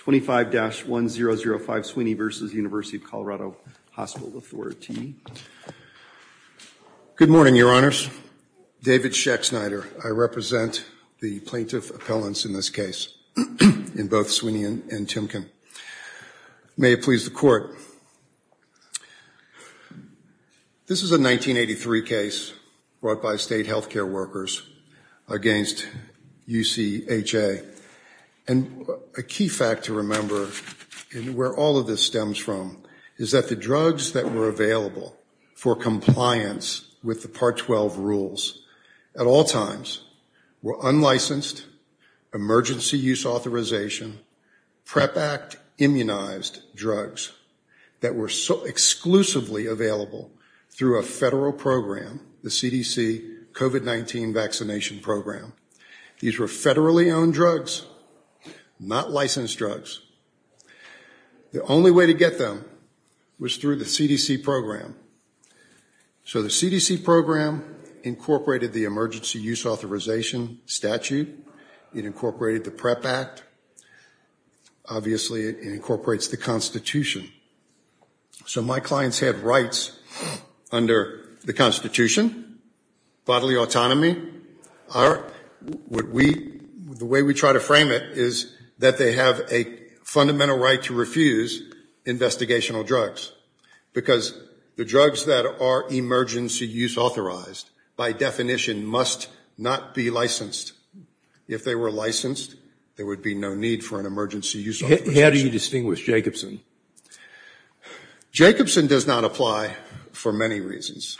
25-1005 Sweeney v. University of Colorado Hospital Authority Good morning, your honors David Sheck Snyder, I represent the plaintiff appellants in this case in both Sweeney and Timken May it please the court This is a 1983 case brought by state health care workers against UCHA and a key fact to remember And where all of this stems from is that the drugs that were available for compliance With the part 12 rules at all times were unlicensed emergency use authorization PrEP act immunized drugs that were exclusively available through a federal program the CDC COVID-19 vaccination program These were federally owned drugs not licensed drugs The only way to get them was through the CDC program So the CDC program Incorporated the emergency use authorization statute it incorporated the PrEP act Obviously it incorporates the Constitution So my clients had rights under the Constitution bodily autonomy The way we try to frame it is that they have a fundamental right to refuse investigational drugs Because the drugs that are emergency use authorized by definition must not be licensed If they were licensed there would be no need for an emergency use. How do you distinguish Jacobson? Jacobson does not apply for many reasons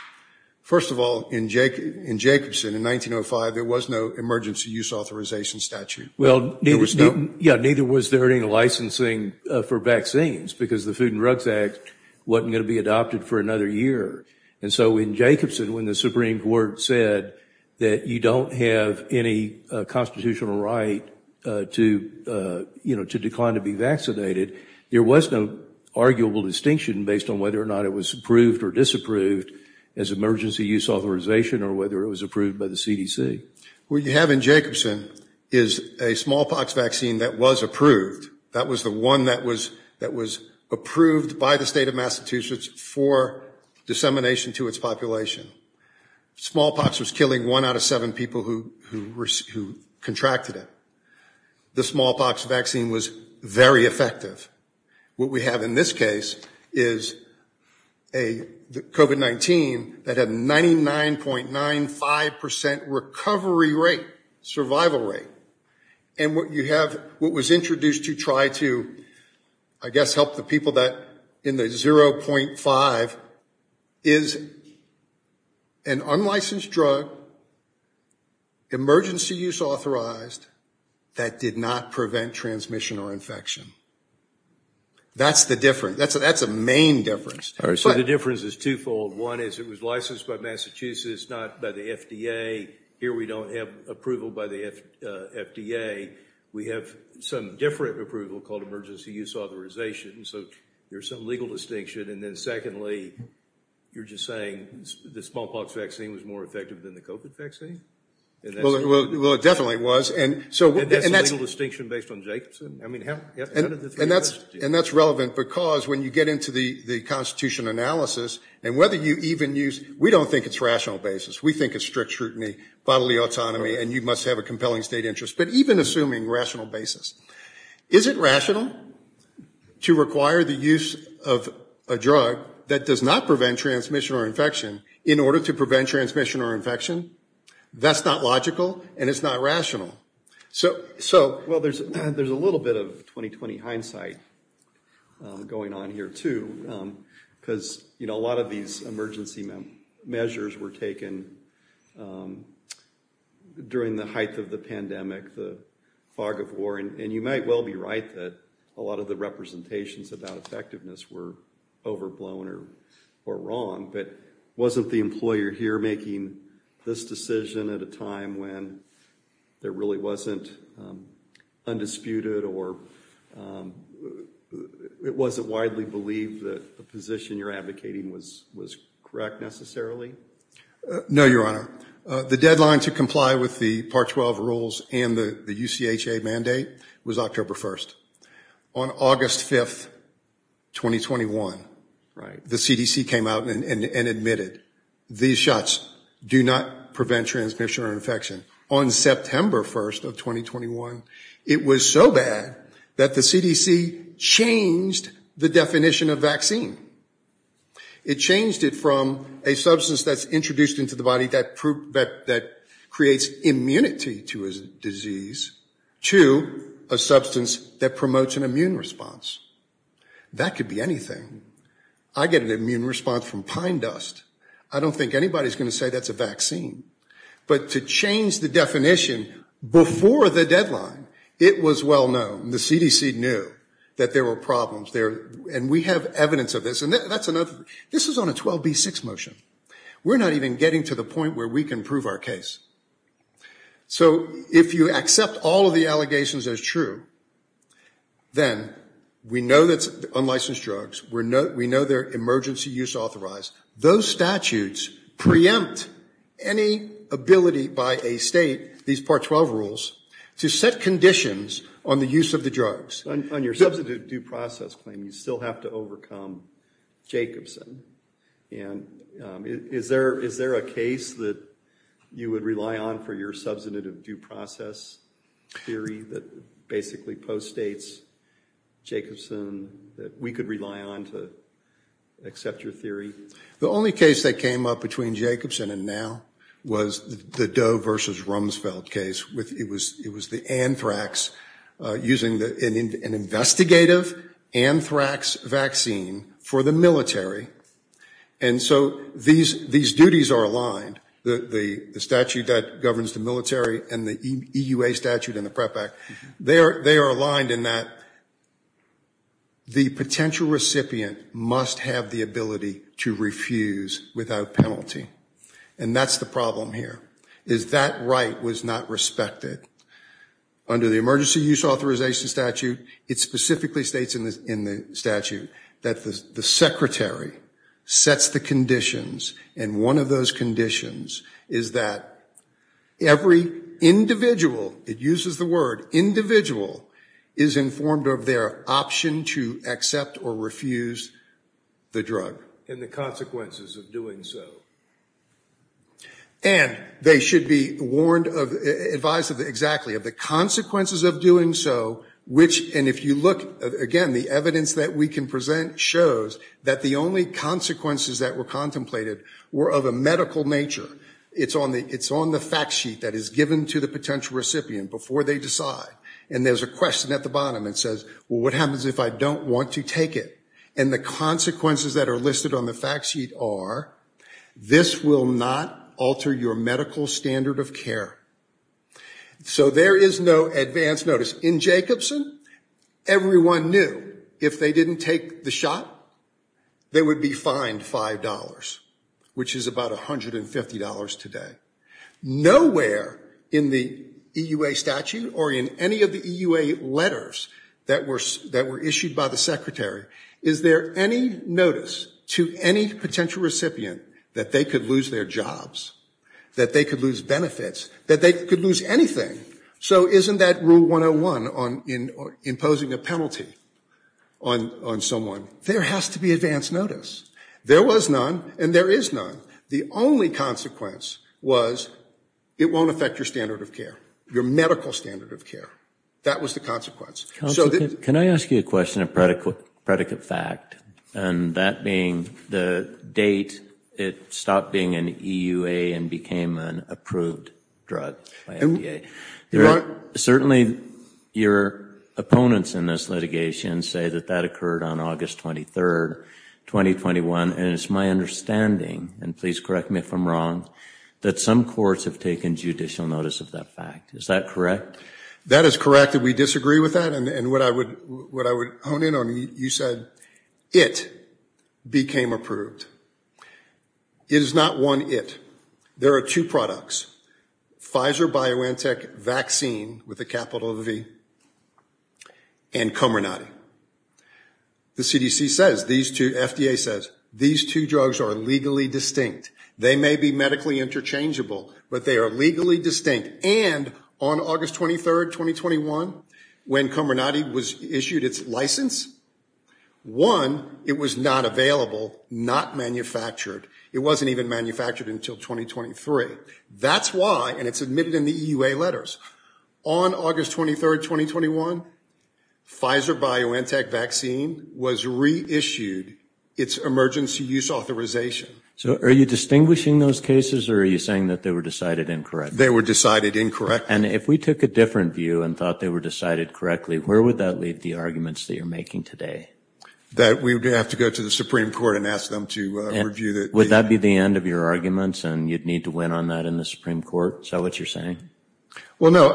First of all in Jacobson in 1905, there was no emergency use authorization statute Well, neither was there any licensing for vaccines because the Food and Drugs Act Wasn't going to be adopted for another year And so in Jacobson when the Supreme Court said that you don't have any constitutional right to You know to decline to be vaccinated. There was no Arguable distinction based on whether or not it was approved or disapproved as emergency use authorization or whether it was approved by the CDC What you have in Jacobson is a smallpox vaccine that was approved That was the one that was that was approved by the state of Massachusetts for dissemination to its population Smallpox was killing one out of seven people who who contracted it The smallpox vaccine was very effective what we have in this case is a COVID-19 that had 99.95% recovery rate survival rate and what you have what was introduced to try to I guess help the people that in the 0.5 is an unlicensed drug Emergency use authorized that did not prevent transmission or infection That's the difference. That's a that's a main difference All right, so the difference is twofold one is it was licensed by Massachusetts not by the FDA here We don't have approval by the FDA We have some different approval called emergency use authorization. So there's some legal distinction and then secondly You're just saying the smallpox vaccine was more effective than the COVID vaccine Well, it definitely was and so that's a legal distinction based on Jacobson I mean how and that's and that's relevant because when you get into the the Constitution analysis and whether you even use we don't think it's rational basis We think it's strict scrutiny bodily autonomy and you must have a compelling state interest, but even assuming rational basis, is it rational? To require the use of a drug that does not prevent transmission or infection in order to prevent transmission or infection That's not logical and it's not rational. So so well, there's there's a little bit of 2020 hindsight Going on here too Because you know a lot of these emergency measures were taken During the height of the pandemic the fog of war and you might well be right that a lot of the representations about effectiveness were Overblown or or wrong, but wasn't the employer here making this decision at a time when? there really wasn't Undisputed or It wasn't widely believed that the position you're advocating was was correct necessarily No, your honor the deadline to comply with the part 12 rules and the the UCH a mandate was October 1st on August 5th 2021 right the CDC came out and admitted these shots do not prevent transmission or infection on September 1st of 2021 it was so bad that the CDC Changed the definition of vaccine It changed it from a substance that's introduced into the body that proved that that creates immunity to his disease To a substance that promotes an immune response That could be anything. I get an immune response from pine dust. I don't think anybody's going to say that's a vaccine But to change the definition Before the deadline it was well known the CDC knew that there were problems there And we have evidence of this and that's enough. This is on a 12b6 motion We're not even getting to the point where we can prove our case So if you accept all of the allegations as true Then we know that's unlicensed drugs. We're not we know they're emergency use authorized those statutes preempt any Ability by a state these part 12 rules to set conditions on the use of the drugs on your substitute due process Claim you still have to overcome Jacobson and Is there is there a case that you would rely on for your substantive due process Theory that basically post states Jacobson that we could rely on to Accept your theory. The only case that came up between Jacobson and now was the Doe versus Rumsfeld case With it was it was the anthrax using the an investigative anthrax vaccine for the military and So these these duties are aligned the the statute that governs the military and the EU a statute in the prep act They are they are aligned in that The potential recipient must have the ability to refuse without penalty And that's the problem here. Is that right was not respected Under the emergency use authorization statute. It specifically states in this in the statute that the secretary sets the conditions and one of those conditions is that every Individual it uses the word Individual is informed of their option to accept or refuse the drug and the consequences of doing so And they should be warned of advice of exactly of the consequences of doing so Which and if you look again the evidence that we can present shows that the only Consequences that were contemplated were of a medical nature It's on the it's on the fact sheet that is given to the potential recipient before they decide and there's a question at the bottom It says what happens if I don't want to take it and the consequences that are listed on the fact sheet are This will not alter your medical standard of care So there is no advance notice in Jacobson Everyone knew if they didn't take the shot They would be fined five dollars, which is about a hundred and fifty dollars today Nowhere in the EUA statute or in any of the EUA letters that were that were issued by the secretary Is there any notice to any potential recipient that they could lose their jobs? That they could lose benefits that they could lose anything. So isn't that rule 101 on in imposing a penalty on On someone there has to be advance notice. There was none and there is none. The only consequence was It won't affect your standard of care your medical standard of care. That was the consequence Can I ask you a question of predicate fact and that being the date it stopped being an EUA And became an approved drug Certainly your opponents in this litigation say that that occurred on August 23rd 2021 and it's my understanding and please correct me if I'm wrong That some courts have taken judicial notice of that fact. Is that correct? That is correct that we disagree with that and what I would what I would hone in on you said it became approved It is not one it there are two products Pfizer-BioNTech vaccine with a capital V and Comirnaty The CDC says these two FDA says these two drugs are legally distinct They may be medically interchangeable, but they are legally distinct and on August 23rd 2021 when Comirnaty was issued its license One it was not available not manufactured it wasn't even manufactured until 2023 That's why and it's admitted in the EUA letters on August 23rd 2021 Pfizer-BioNTech vaccine was reissued its emergency use authorization So are you distinguishing those cases or are you saying that they were decided incorrect? They were decided incorrect And if we took a different view and thought they were decided correctly Where would that leave the arguments that you're making today? That we would have to go to the Supreme Court and ask them to review that Would that be the end of your arguments and you'd need to win on that in the Supreme Court? Is that what you're saying? Well, no,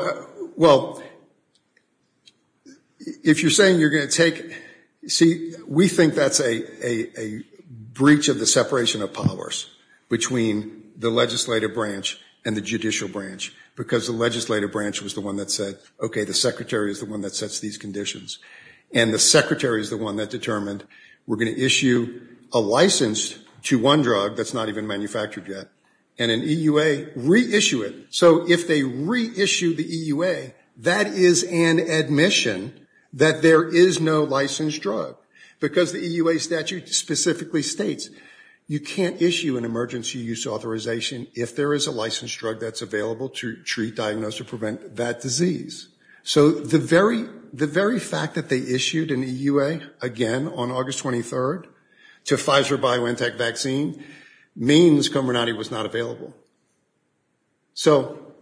well If you're saying you're going to take see we think that's a breach of the separation of powers Between the legislative branch and the judicial branch because the legislative branch was the one that said, okay The secretary is the one that sets these conditions and the secretary is the one that determined we're going to issue a license To one drug that's not even manufactured yet and an EUA reissue it so if they reissue the EUA that is an Admission that there is no licensed drug because the EUA statute specifically states You can't issue an emergency use authorization if there is a licensed drug that's available to treat diagnose or prevent that disease So the very the very fact that they issued an EUA again on August 23rd to Pfizer BioNTech vaccine Means Comirnaty was not available so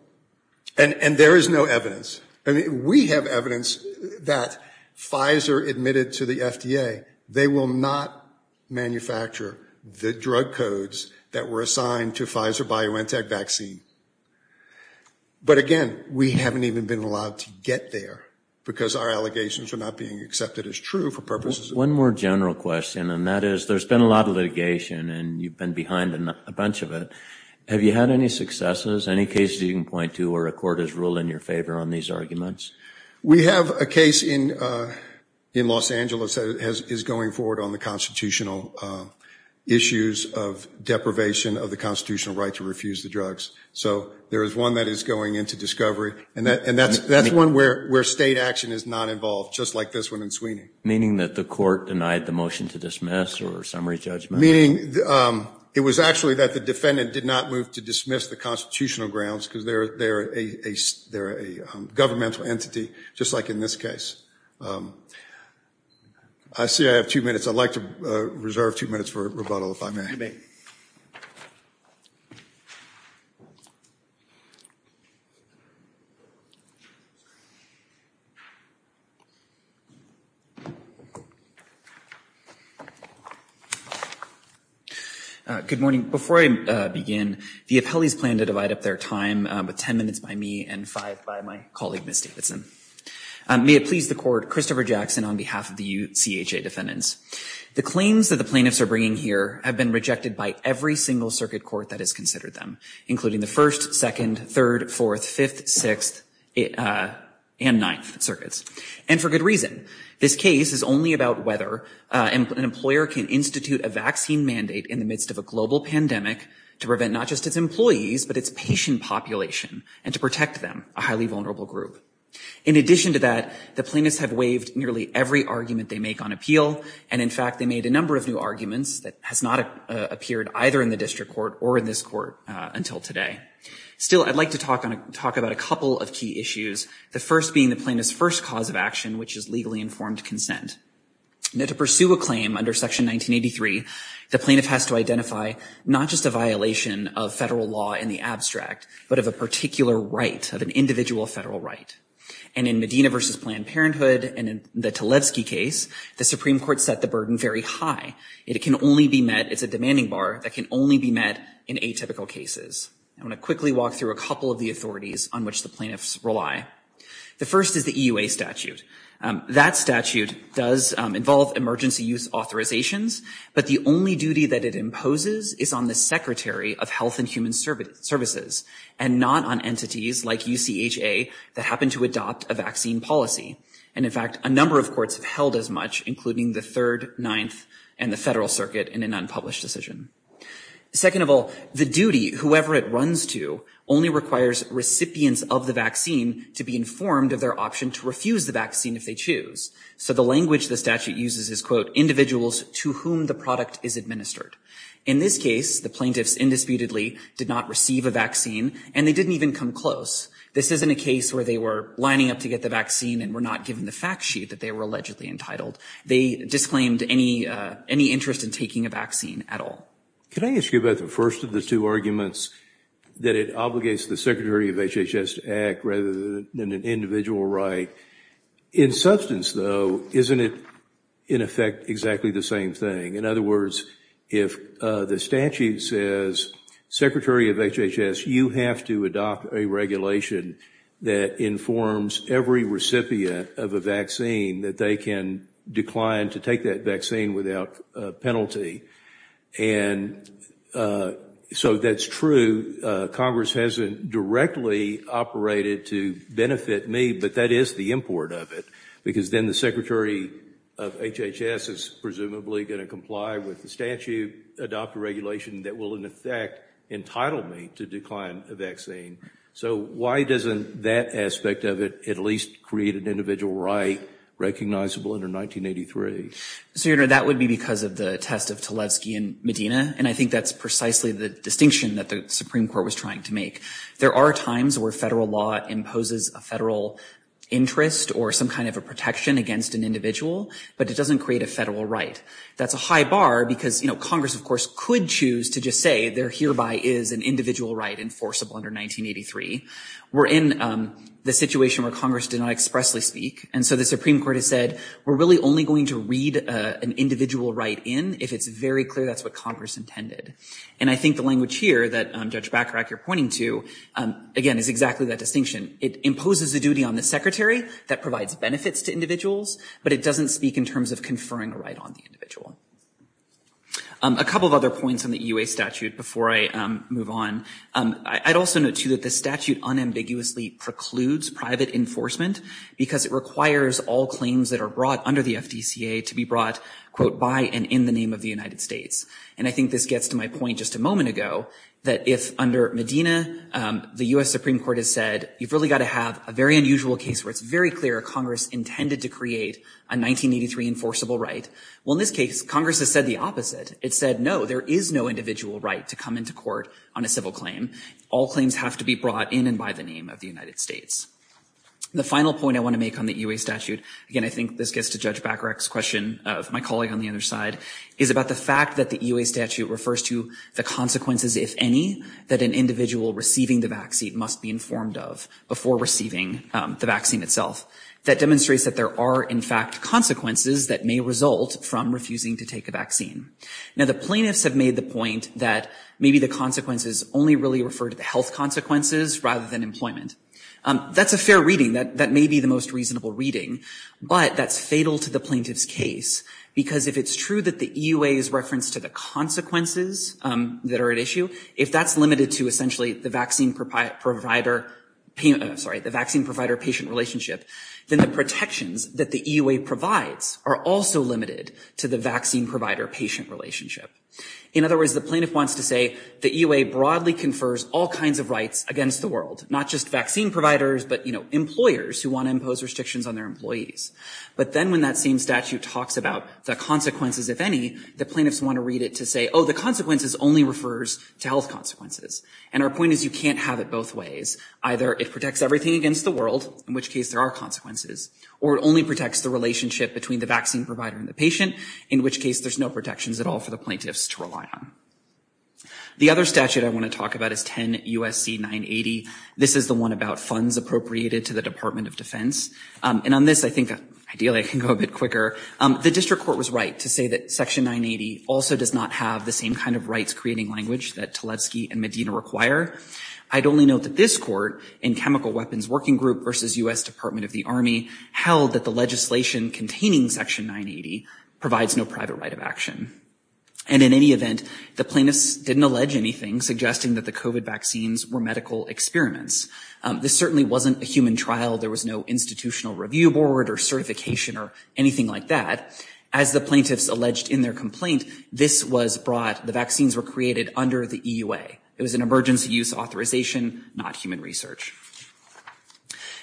and And there is no evidence and we have evidence that Pfizer admitted to the FDA they will not Manufacture the drug codes that were assigned to Pfizer BioNTech vaccine But again, we haven't even been allowed to get there because our allegations are not being accepted as true for purposes One more general question and that is there's been a lot of litigation and you've been behind a bunch of it Have you had any successes any cases you can point to or a court has ruled in your favor on these arguments? We have a case in In Los Angeles that is going forward on the constitutional issues of Deprivation of the constitutional right to refuse the drugs So there is one that is going into discovery and that and that's that's one where where state action is not involved Just like this one in Sweeney meaning that the court denied the motion to dismiss or summary judgment meaning it was actually that the defendant did not move to dismiss the constitutional grounds because they're they're a They're a governmental entity just like in this case I See, I have two minutes. I'd like to reserve two minutes for rebuttal if I may Good morning before I begin the appellees plan to divide up their time with ten minutes by me and five by my colleague miss Davidson May it please the court Christopher Jackson on behalf of the UCH a defendants The claims that the plaintiffs are bringing here have been rejected by every single circuit court that has considered them including the first second third fourth fifth sixth And ninth circuits and for good reason this case is only about whether And an employer can institute a vaccine mandate in the midst of a global pandemic to prevent not just its employees But its patient population and to protect them a highly vulnerable group in addition to that the plaintiffs have waived nearly every argument they make on appeal and in fact They made a number of new arguments that has not appeared either in the district court or in this court until today Still I'd like to talk on a talk about a couple of key issues The first being the plaintiff's first cause of action, which is legally informed consent Now to pursue a claim under section 1983 the plaintiff has to identify not just a violation of federal law in the abstract but of a particular right of an individual federal right and In Medina versus Planned Parenthood and in the Tlaib ski case the Supreme Court set the burden very high It can only be met It's a demanding bar that can only be met in a typical cases I want to quickly walk through a couple of the authorities on which the plaintiffs rely The first is the EUA statute that statute does involve emergency use authorizations but the only duty that it imposes is on the Secretary of Health and Human Services and not on entities like UCHA that happen to adopt a vaccine policy and in fact a number of courts have held as much including the third ninth and the Federal Circuit in an unpublished decision Second of all the duty whoever it runs to only requires Recipients of the vaccine to be informed of their option to refuse the vaccine if they choose So the language the statute uses is quote individuals to whom the product is administered in this case The plaintiffs indisputably did not receive a vaccine and they didn't even come close This isn't a case where they were lining up to get the vaccine and were not given the fact sheet that they were allegedly entitled They disclaimed any any interest in taking a vaccine at all. Can I ask you about the first of the two arguments? That it obligates the Secretary of HHS to act rather than an individual, right? In substance though, isn't it in effect exactly the same thing? In other words if the statute says Secretary of HHS you have to adopt a regulation that Informs every recipient of a vaccine that they can decline to take that vaccine without penalty and So that's true Congress hasn't directly Operated to benefit me but that is the import of it because then the Secretary of HHS is presumably going to comply with The statute adopt a regulation that will in effect Entitled me to decline a vaccine. So why doesn't that aspect of it at least create an individual right? recognizable under 1983 So you know that would be because of the test of Tlaib ski in Medina And I think that's precisely the distinction that the Supreme Court was trying to make there are times where federal law imposes a federal Interest or some kind of a protection against an individual, but it doesn't create a federal right That's a high bar because you know Congress, of course could choose to just say there hereby is an individual right enforceable under 1983 We're in the situation where Congress did not expressly speak And so the Supreme Court has said we're really only going to read an individual right in if it's very clear That's what Congress intended and I think the language here that Judge Bacharach you're pointing to Again is exactly that distinction it imposes the duty on the secretary that provides benefits to individuals but it doesn't speak in terms of conferring a right on the individual a Couple of other points on the EU a statute before I move on I'd also note to that the statute unambiguously precludes private enforcement Because it requires all claims that are brought under the FDCA to be brought Quote by and in the name of the United States and I think this gets to my point just a moment ago That if under Medina the US Supreme Court has said you've really got to have a very unusual case where it's very clear Congress intended to create a 1983 enforceable, right? Well in this case Congress has said the opposite It said no There is no individual right to come into court on a civil claim All claims have to be brought in and by the name of the United States The final point I want to make on the EU a statute again I think this gets to judge Bacharach's question of my colleague on the other side is about the fact that the EU a statute refers To the consequences if any that an individual receiving the vaccine must be informed of before receiving The vaccine itself that demonstrates that there are in fact consequences that may result from refusing to take a vaccine Now the plaintiffs have made the point that maybe the consequences only really refer to the health consequences rather than employment That's a fair reading that that may be the most reasonable reading but that's fatal to the plaintiff's case Because if it's true that the EU a is referenced to the consequences That are at issue if that's limited to essentially the vaccine provider Sorry the vaccine provider patient relationship Then the protections that the EU a provides are also limited to the vaccine provider patient relationship In other words the plaintiff wants to say the EU a broadly confers all kinds of rights against the world not just vaccine providers But you know employers who want to impose restrictions on their employees But then when that same statute talks about the consequences if any the plaintiffs want to read it to say Oh the consequences only refers to health consequences and our point is you can't have it both ways either it protects everything against the world in which case there are consequences or it only protects the Relationship between the vaccine provider and the patient in which case there's no protections at all for the plaintiffs to rely on The other statute I want to talk about is 10 USC 980 This is the one about funds appropriated to the Department of Defense and on this I think ideally I can go a bit quicker The district court was right to say that section 980 also does not have the same kind of rights creating language that Tletsky and Medina require I'd only note that this court in Chemical Weapons Working Group versus US Department of the Army held that the legislation containing section 980 provides no private right of action and In any event the plaintiffs didn't allege anything suggesting that the kovat vaccines were medical experiments This certainly wasn't a human trial There was no institutional review board or certification or anything like that as the plaintiffs alleged in their complaint This was brought the vaccines were created under the EUA. It was an emergency use authorization not human research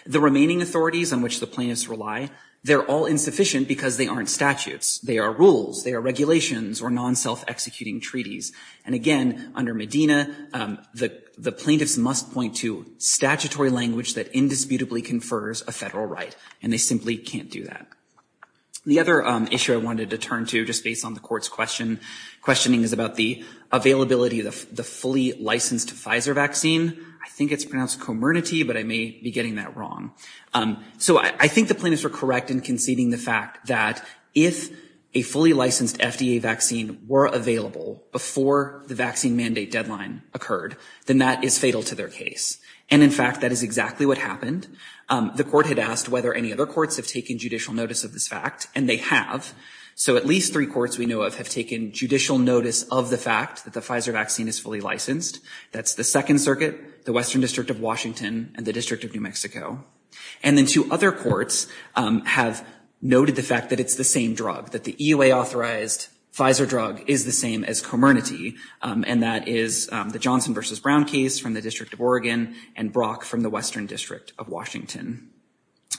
The remaining authorities on which the plaintiffs rely they're all insufficient because they aren't statutes. They are rules They are regulations or non self-executing treaties and again under Medina The the plaintiffs must point to statutory language that indisputably confers a federal right and they simply can't do that The other issue I wanted to turn to just based on the court's question Questioning is about the availability of the fully licensed Pfizer vaccine I think it's pronounced comernity, but I may be getting that wrong so I think the plaintiffs were correct in conceding the fact that if a Fully licensed FDA vaccine were available before the vaccine mandate deadline occurred Then that is fatal to their case. And in fact, that is exactly what happened The court had asked whether any other courts have taken judicial notice of this fact and they have So at least three courts we know of have taken judicial notice of the fact that the Pfizer vaccine is fully licensed That's the Second Circuit the Western District of Washington and the District of New Mexico and then two other courts Have noted the fact that it's the same drug that the EUA authorized Pfizer drug is the same as comernity And that is the Johnson versus Brown case from the District of Oregon and Brock from the Western District of Washington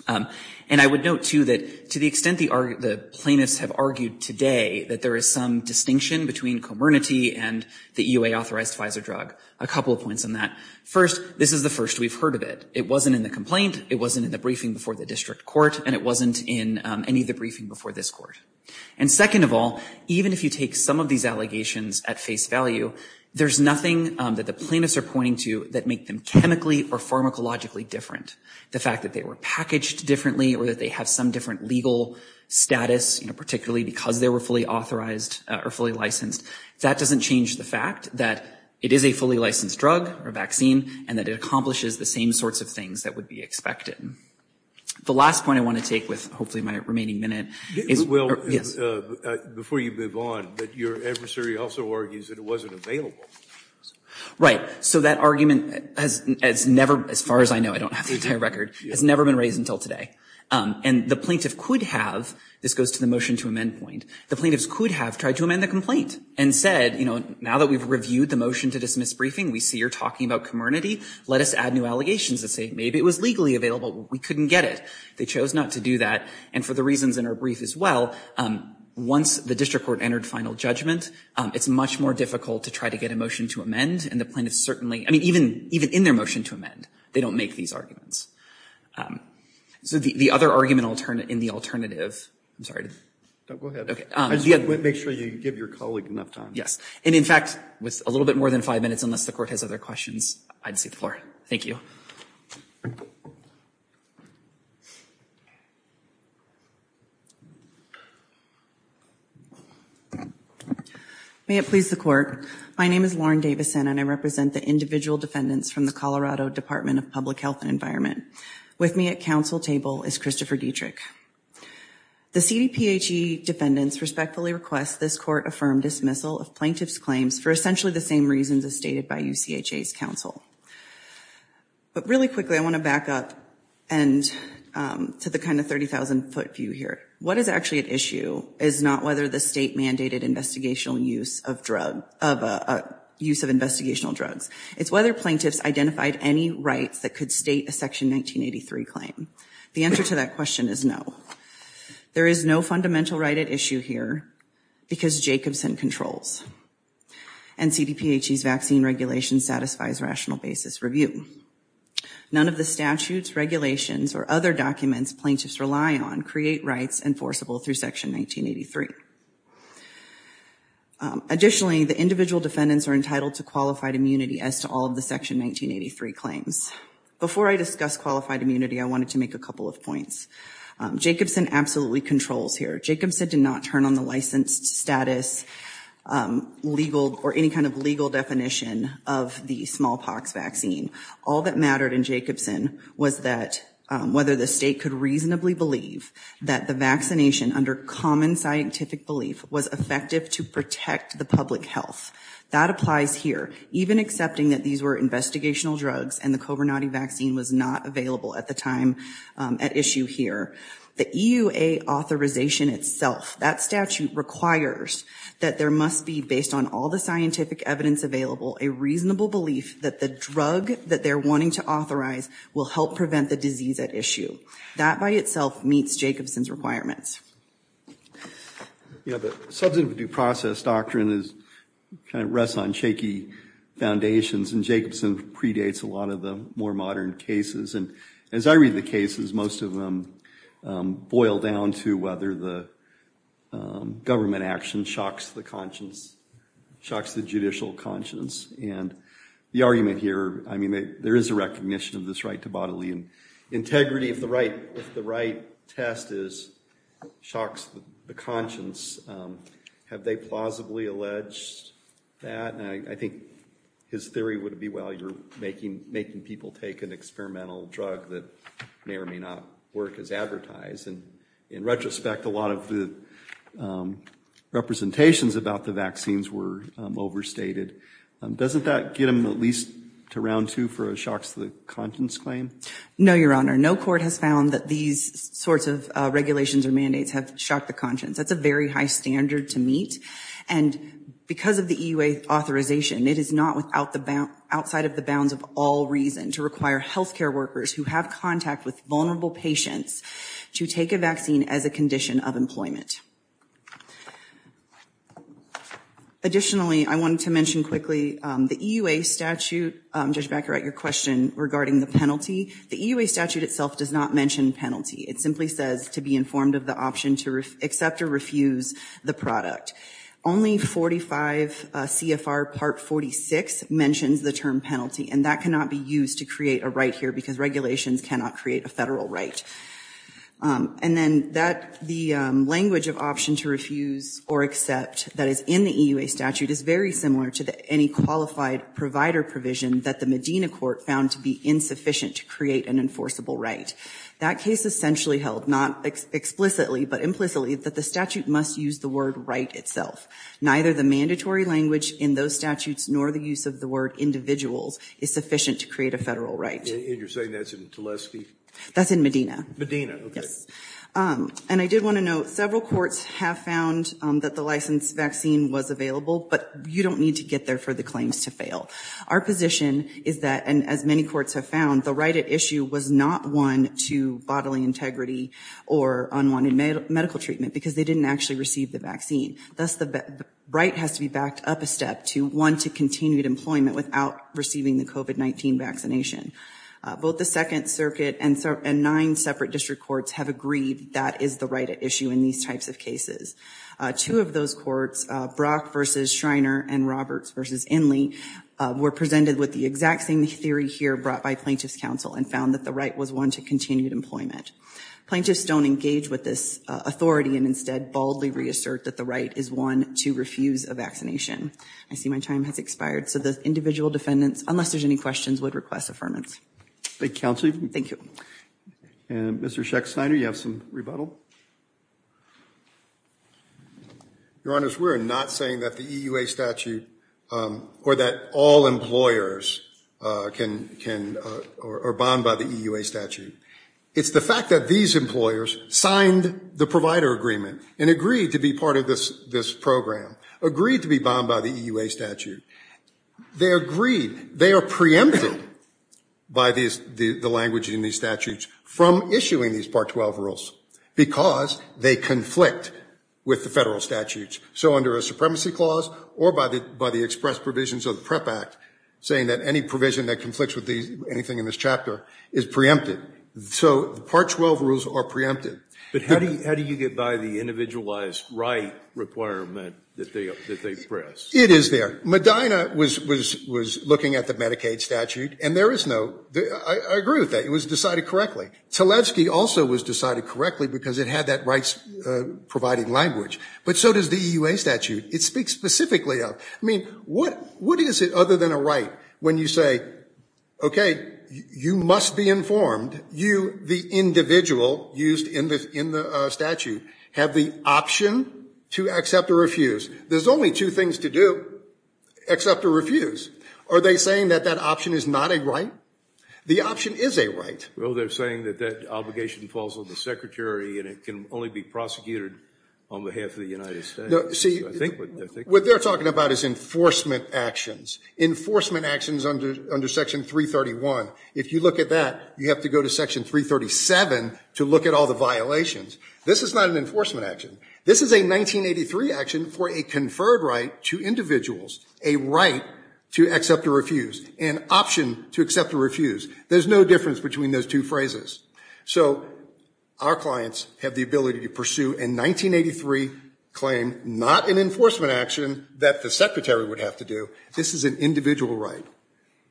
and I would note too that to the extent the Plaintiffs have argued today that there is some distinction between comernity and the EUA authorized Pfizer drug a couple of points on that First this is the first we've heard of it. It wasn't in the complaint It wasn't in the briefing before the district court and it wasn't in any of the briefing before this court And second of all, even if you take some of these allegations at face value There's nothing that the plaintiffs are pointing to that make them chemically or pharmacologically different The fact that they were packaged differently or that they have some different legal Status, you know, particularly because they were fully authorized or fully licensed That doesn't change the fact that it is a fully licensed drug or vaccine and that it accomplishes the same sorts of things that would be expected The last point I want to take with hopefully my remaining minute is well Before you move on but your adversary also argues that it wasn't available Right, so that argument has never as far as I know I don't have the entire record has never been raised until today And the plaintiff could have this goes to the motion to amend point the plaintiffs could have tried to amend the complaint and said You know now that we've reviewed the motion to dismiss briefing. We see you're talking about comernity Let us add new allegations to say maybe it was legally available. We couldn't get it They chose not to do that and for the reasons in our brief as well Once the district court entered final judgment It's much more difficult to try to get a motion to amend and the plaintiff certainly I mean even even in their motion to amend They don't make these arguments So the other argument alternate in the alternative I'm sorry Make sure you give your colleague enough time Yes, and in fact with a little bit more than five minutes unless the court has other questions. I'd see the floor. Thank you May it please the court My name is Lauren Davison and I represent the individual defendants from the Colorado Department of Public Health and Environment With me at council table is Christopher Dietrich The CDPHE Defendants respectfully requests this court affirmed dismissal of plaintiffs claims for essentially the same reasons as stated by you CHA's counsel but really quickly I want to back up and To the kind of 30,000 foot view here. What is actually at issue is not whether the state mandated investigational use of drug of Use of investigational drugs. It's whether plaintiffs identified any rights that could state a section 1983 claim the answer to that question is no there is no fundamental right at issue here because Jacobson controls and CDPHE's vaccine regulation satisfies rational basis review None of the statutes regulations or other documents plaintiffs rely on create rights enforceable through section 1983 Additionally the individual defendants are entitled to qualified immunity as to all of the section 1983 claims Before I discuss qualified immunity. I wanted to make a couple of points Jacobson absolutely controls here. Jacobson did not turn on the licensed status legal or any kind of legal definition of the smallpox vaccine all that mattered in Jacobson was that Whether the state could reasonably believe that the vaccination under common scientific belief was effective to protect the public health That applies here even accepting that these were investigational drugs and the Cobernati vaccine was not available at the time At issue here the EUA authorization itself that statute requires that there must be based on all the scientific evidence available a Reasonable belief that the drug that they're wanting to authorize will help prevent the disease at issue that by itself meets Jacobson's requirements You know the substantive due process doctrine is kind of rests on shaky Foundations and Jacobson predates a lot of the more modern cases and as I read the cases most of them boil down to whether the Government action shocks the conscience Shocks the judicial conscience and the argument here. I mean there is a recognition of this right to bodily and integrity of the right if the right test is shocks the conscience Have they plausibly alleged? That I think his theory would be well you're making making people take an experimental drug that may or may not work as advertised and in retrospect a lot of the Representations about the vaccines were Overstated doesn't that get him at least to round two for a shocks the conscience claim? No, your honor. No court has found that these sorts of regulations or mandates have shocked the conscience that's a very high standard to meet and Because of the EUA Authorization it is not without the bound outside of the bounds of all reason to require health care workers who have contact with vulnerable Patients to take a vaccine as a condition of employment Additionally, I wanted to mention quickly the EUA statute Judge Becker at your question regarding the penalty the EUA statute itself does not mention penalty It simply says to be informed of the option to accept or refuse the product only 45 CFR part 46 mentions the term penalty and that cannot be used to create a right here because regulations cannot create a federal right and then that the language of option to refuse or accept that is in the EUA statute is very similar to the any Qualified provider provision that the Medina court found to be insufficient to create an enforceable, right? That case essentially held not Explicitly, but implicitly that the statute must use the word right itself Neither the mandatory language in those statutes nor the use of the word individuals is sufficient to create a federal right That's in Medina Medina And I did want to note several courts have found that the license vaccine was available But you don't need to get there for the claims to fail Our position is that and as many courts have found the right at issue was not one to bodily integrity or unwanted medical treatment because they didn't actually receive the vaccine thus the Right has to be backed up a step to one to continued employment without receiving the COVID-19 vaccination Both the Second Circuit and so and nine separate district courts have agreed. That is the right at issue in these types of cases Two of those courts Brock versus Shriner and Roberts versus Inley Were presented with the exact same theory here brought by plaintiffs counsel and found that the right was one to continued employment Plaintiffs don't engage with this authority and instead baldly reassert that the right is one to refuse a vaccination I see my time has expired. So the individual defendants unless there's any questions would request affirmance the counsel. Thank you Mr. Schecht signer you have some rebuttal Your honor's we're not saying that the EU a statute or that all employers Can can or bond by the EU a statute? It's the fact that these employers signed the provider agreement and agreed to be part of this this program Agreed to be bound by the EU a statute They agreed they are preempted By these the language in these statutes from issuing these part 12 rules Because they conflict with the federal statutes So under a supremacy clause or by the by the express provisions of the prep act Saying that any provision that conflicts with these anything in this chapter is preempted So the part 12 rules are preempted, but how do you how do you get by the individualized right? Requirement that they express it is there Medina was was was looking at the Medicaid statute and there is no Agree with that. It was decided correctly. So Levski also was decided correctly because it had that rights Providing language, but so does the EU a statute it speaks specifically of I mean, what what is it other than a right when you say? Okay, you must be informed you the individual used in this in the statute have the option To accept or refuse. There's only two things to do Accept or refuse are they saying that that option is not a right the option is a right Well, they're saying that that obligation falls on the secretary and it can only be prosecuted on behalf of the United States See what they're talking about is enforcement actions Enforcement actions under under section 331 if you look at that you have to go to section 337 to look at all the violations. This is not an enforcement action This is a 1983 action for a conferred right to individuals a right to accept or refuse an Option to accept or refuse. There's no difference between those two phrases. So Our clients have the ability to pursue in 1983 claim not an enforcement action that the secretary would have to do this is an individual right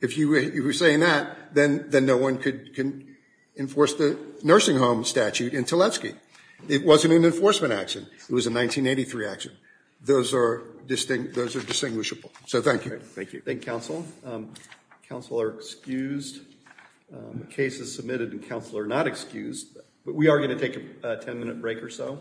if You were saying that then then no one could can enforce the nursing home statute in Tleski It wasn't an enforcement action it was a 1983 action those are distinct those are distinguishable. So, thank you. Thank you. Thank counsel counsel are excused Cases submitted and counsel are not excused, but we are going to take a 10-minute break or so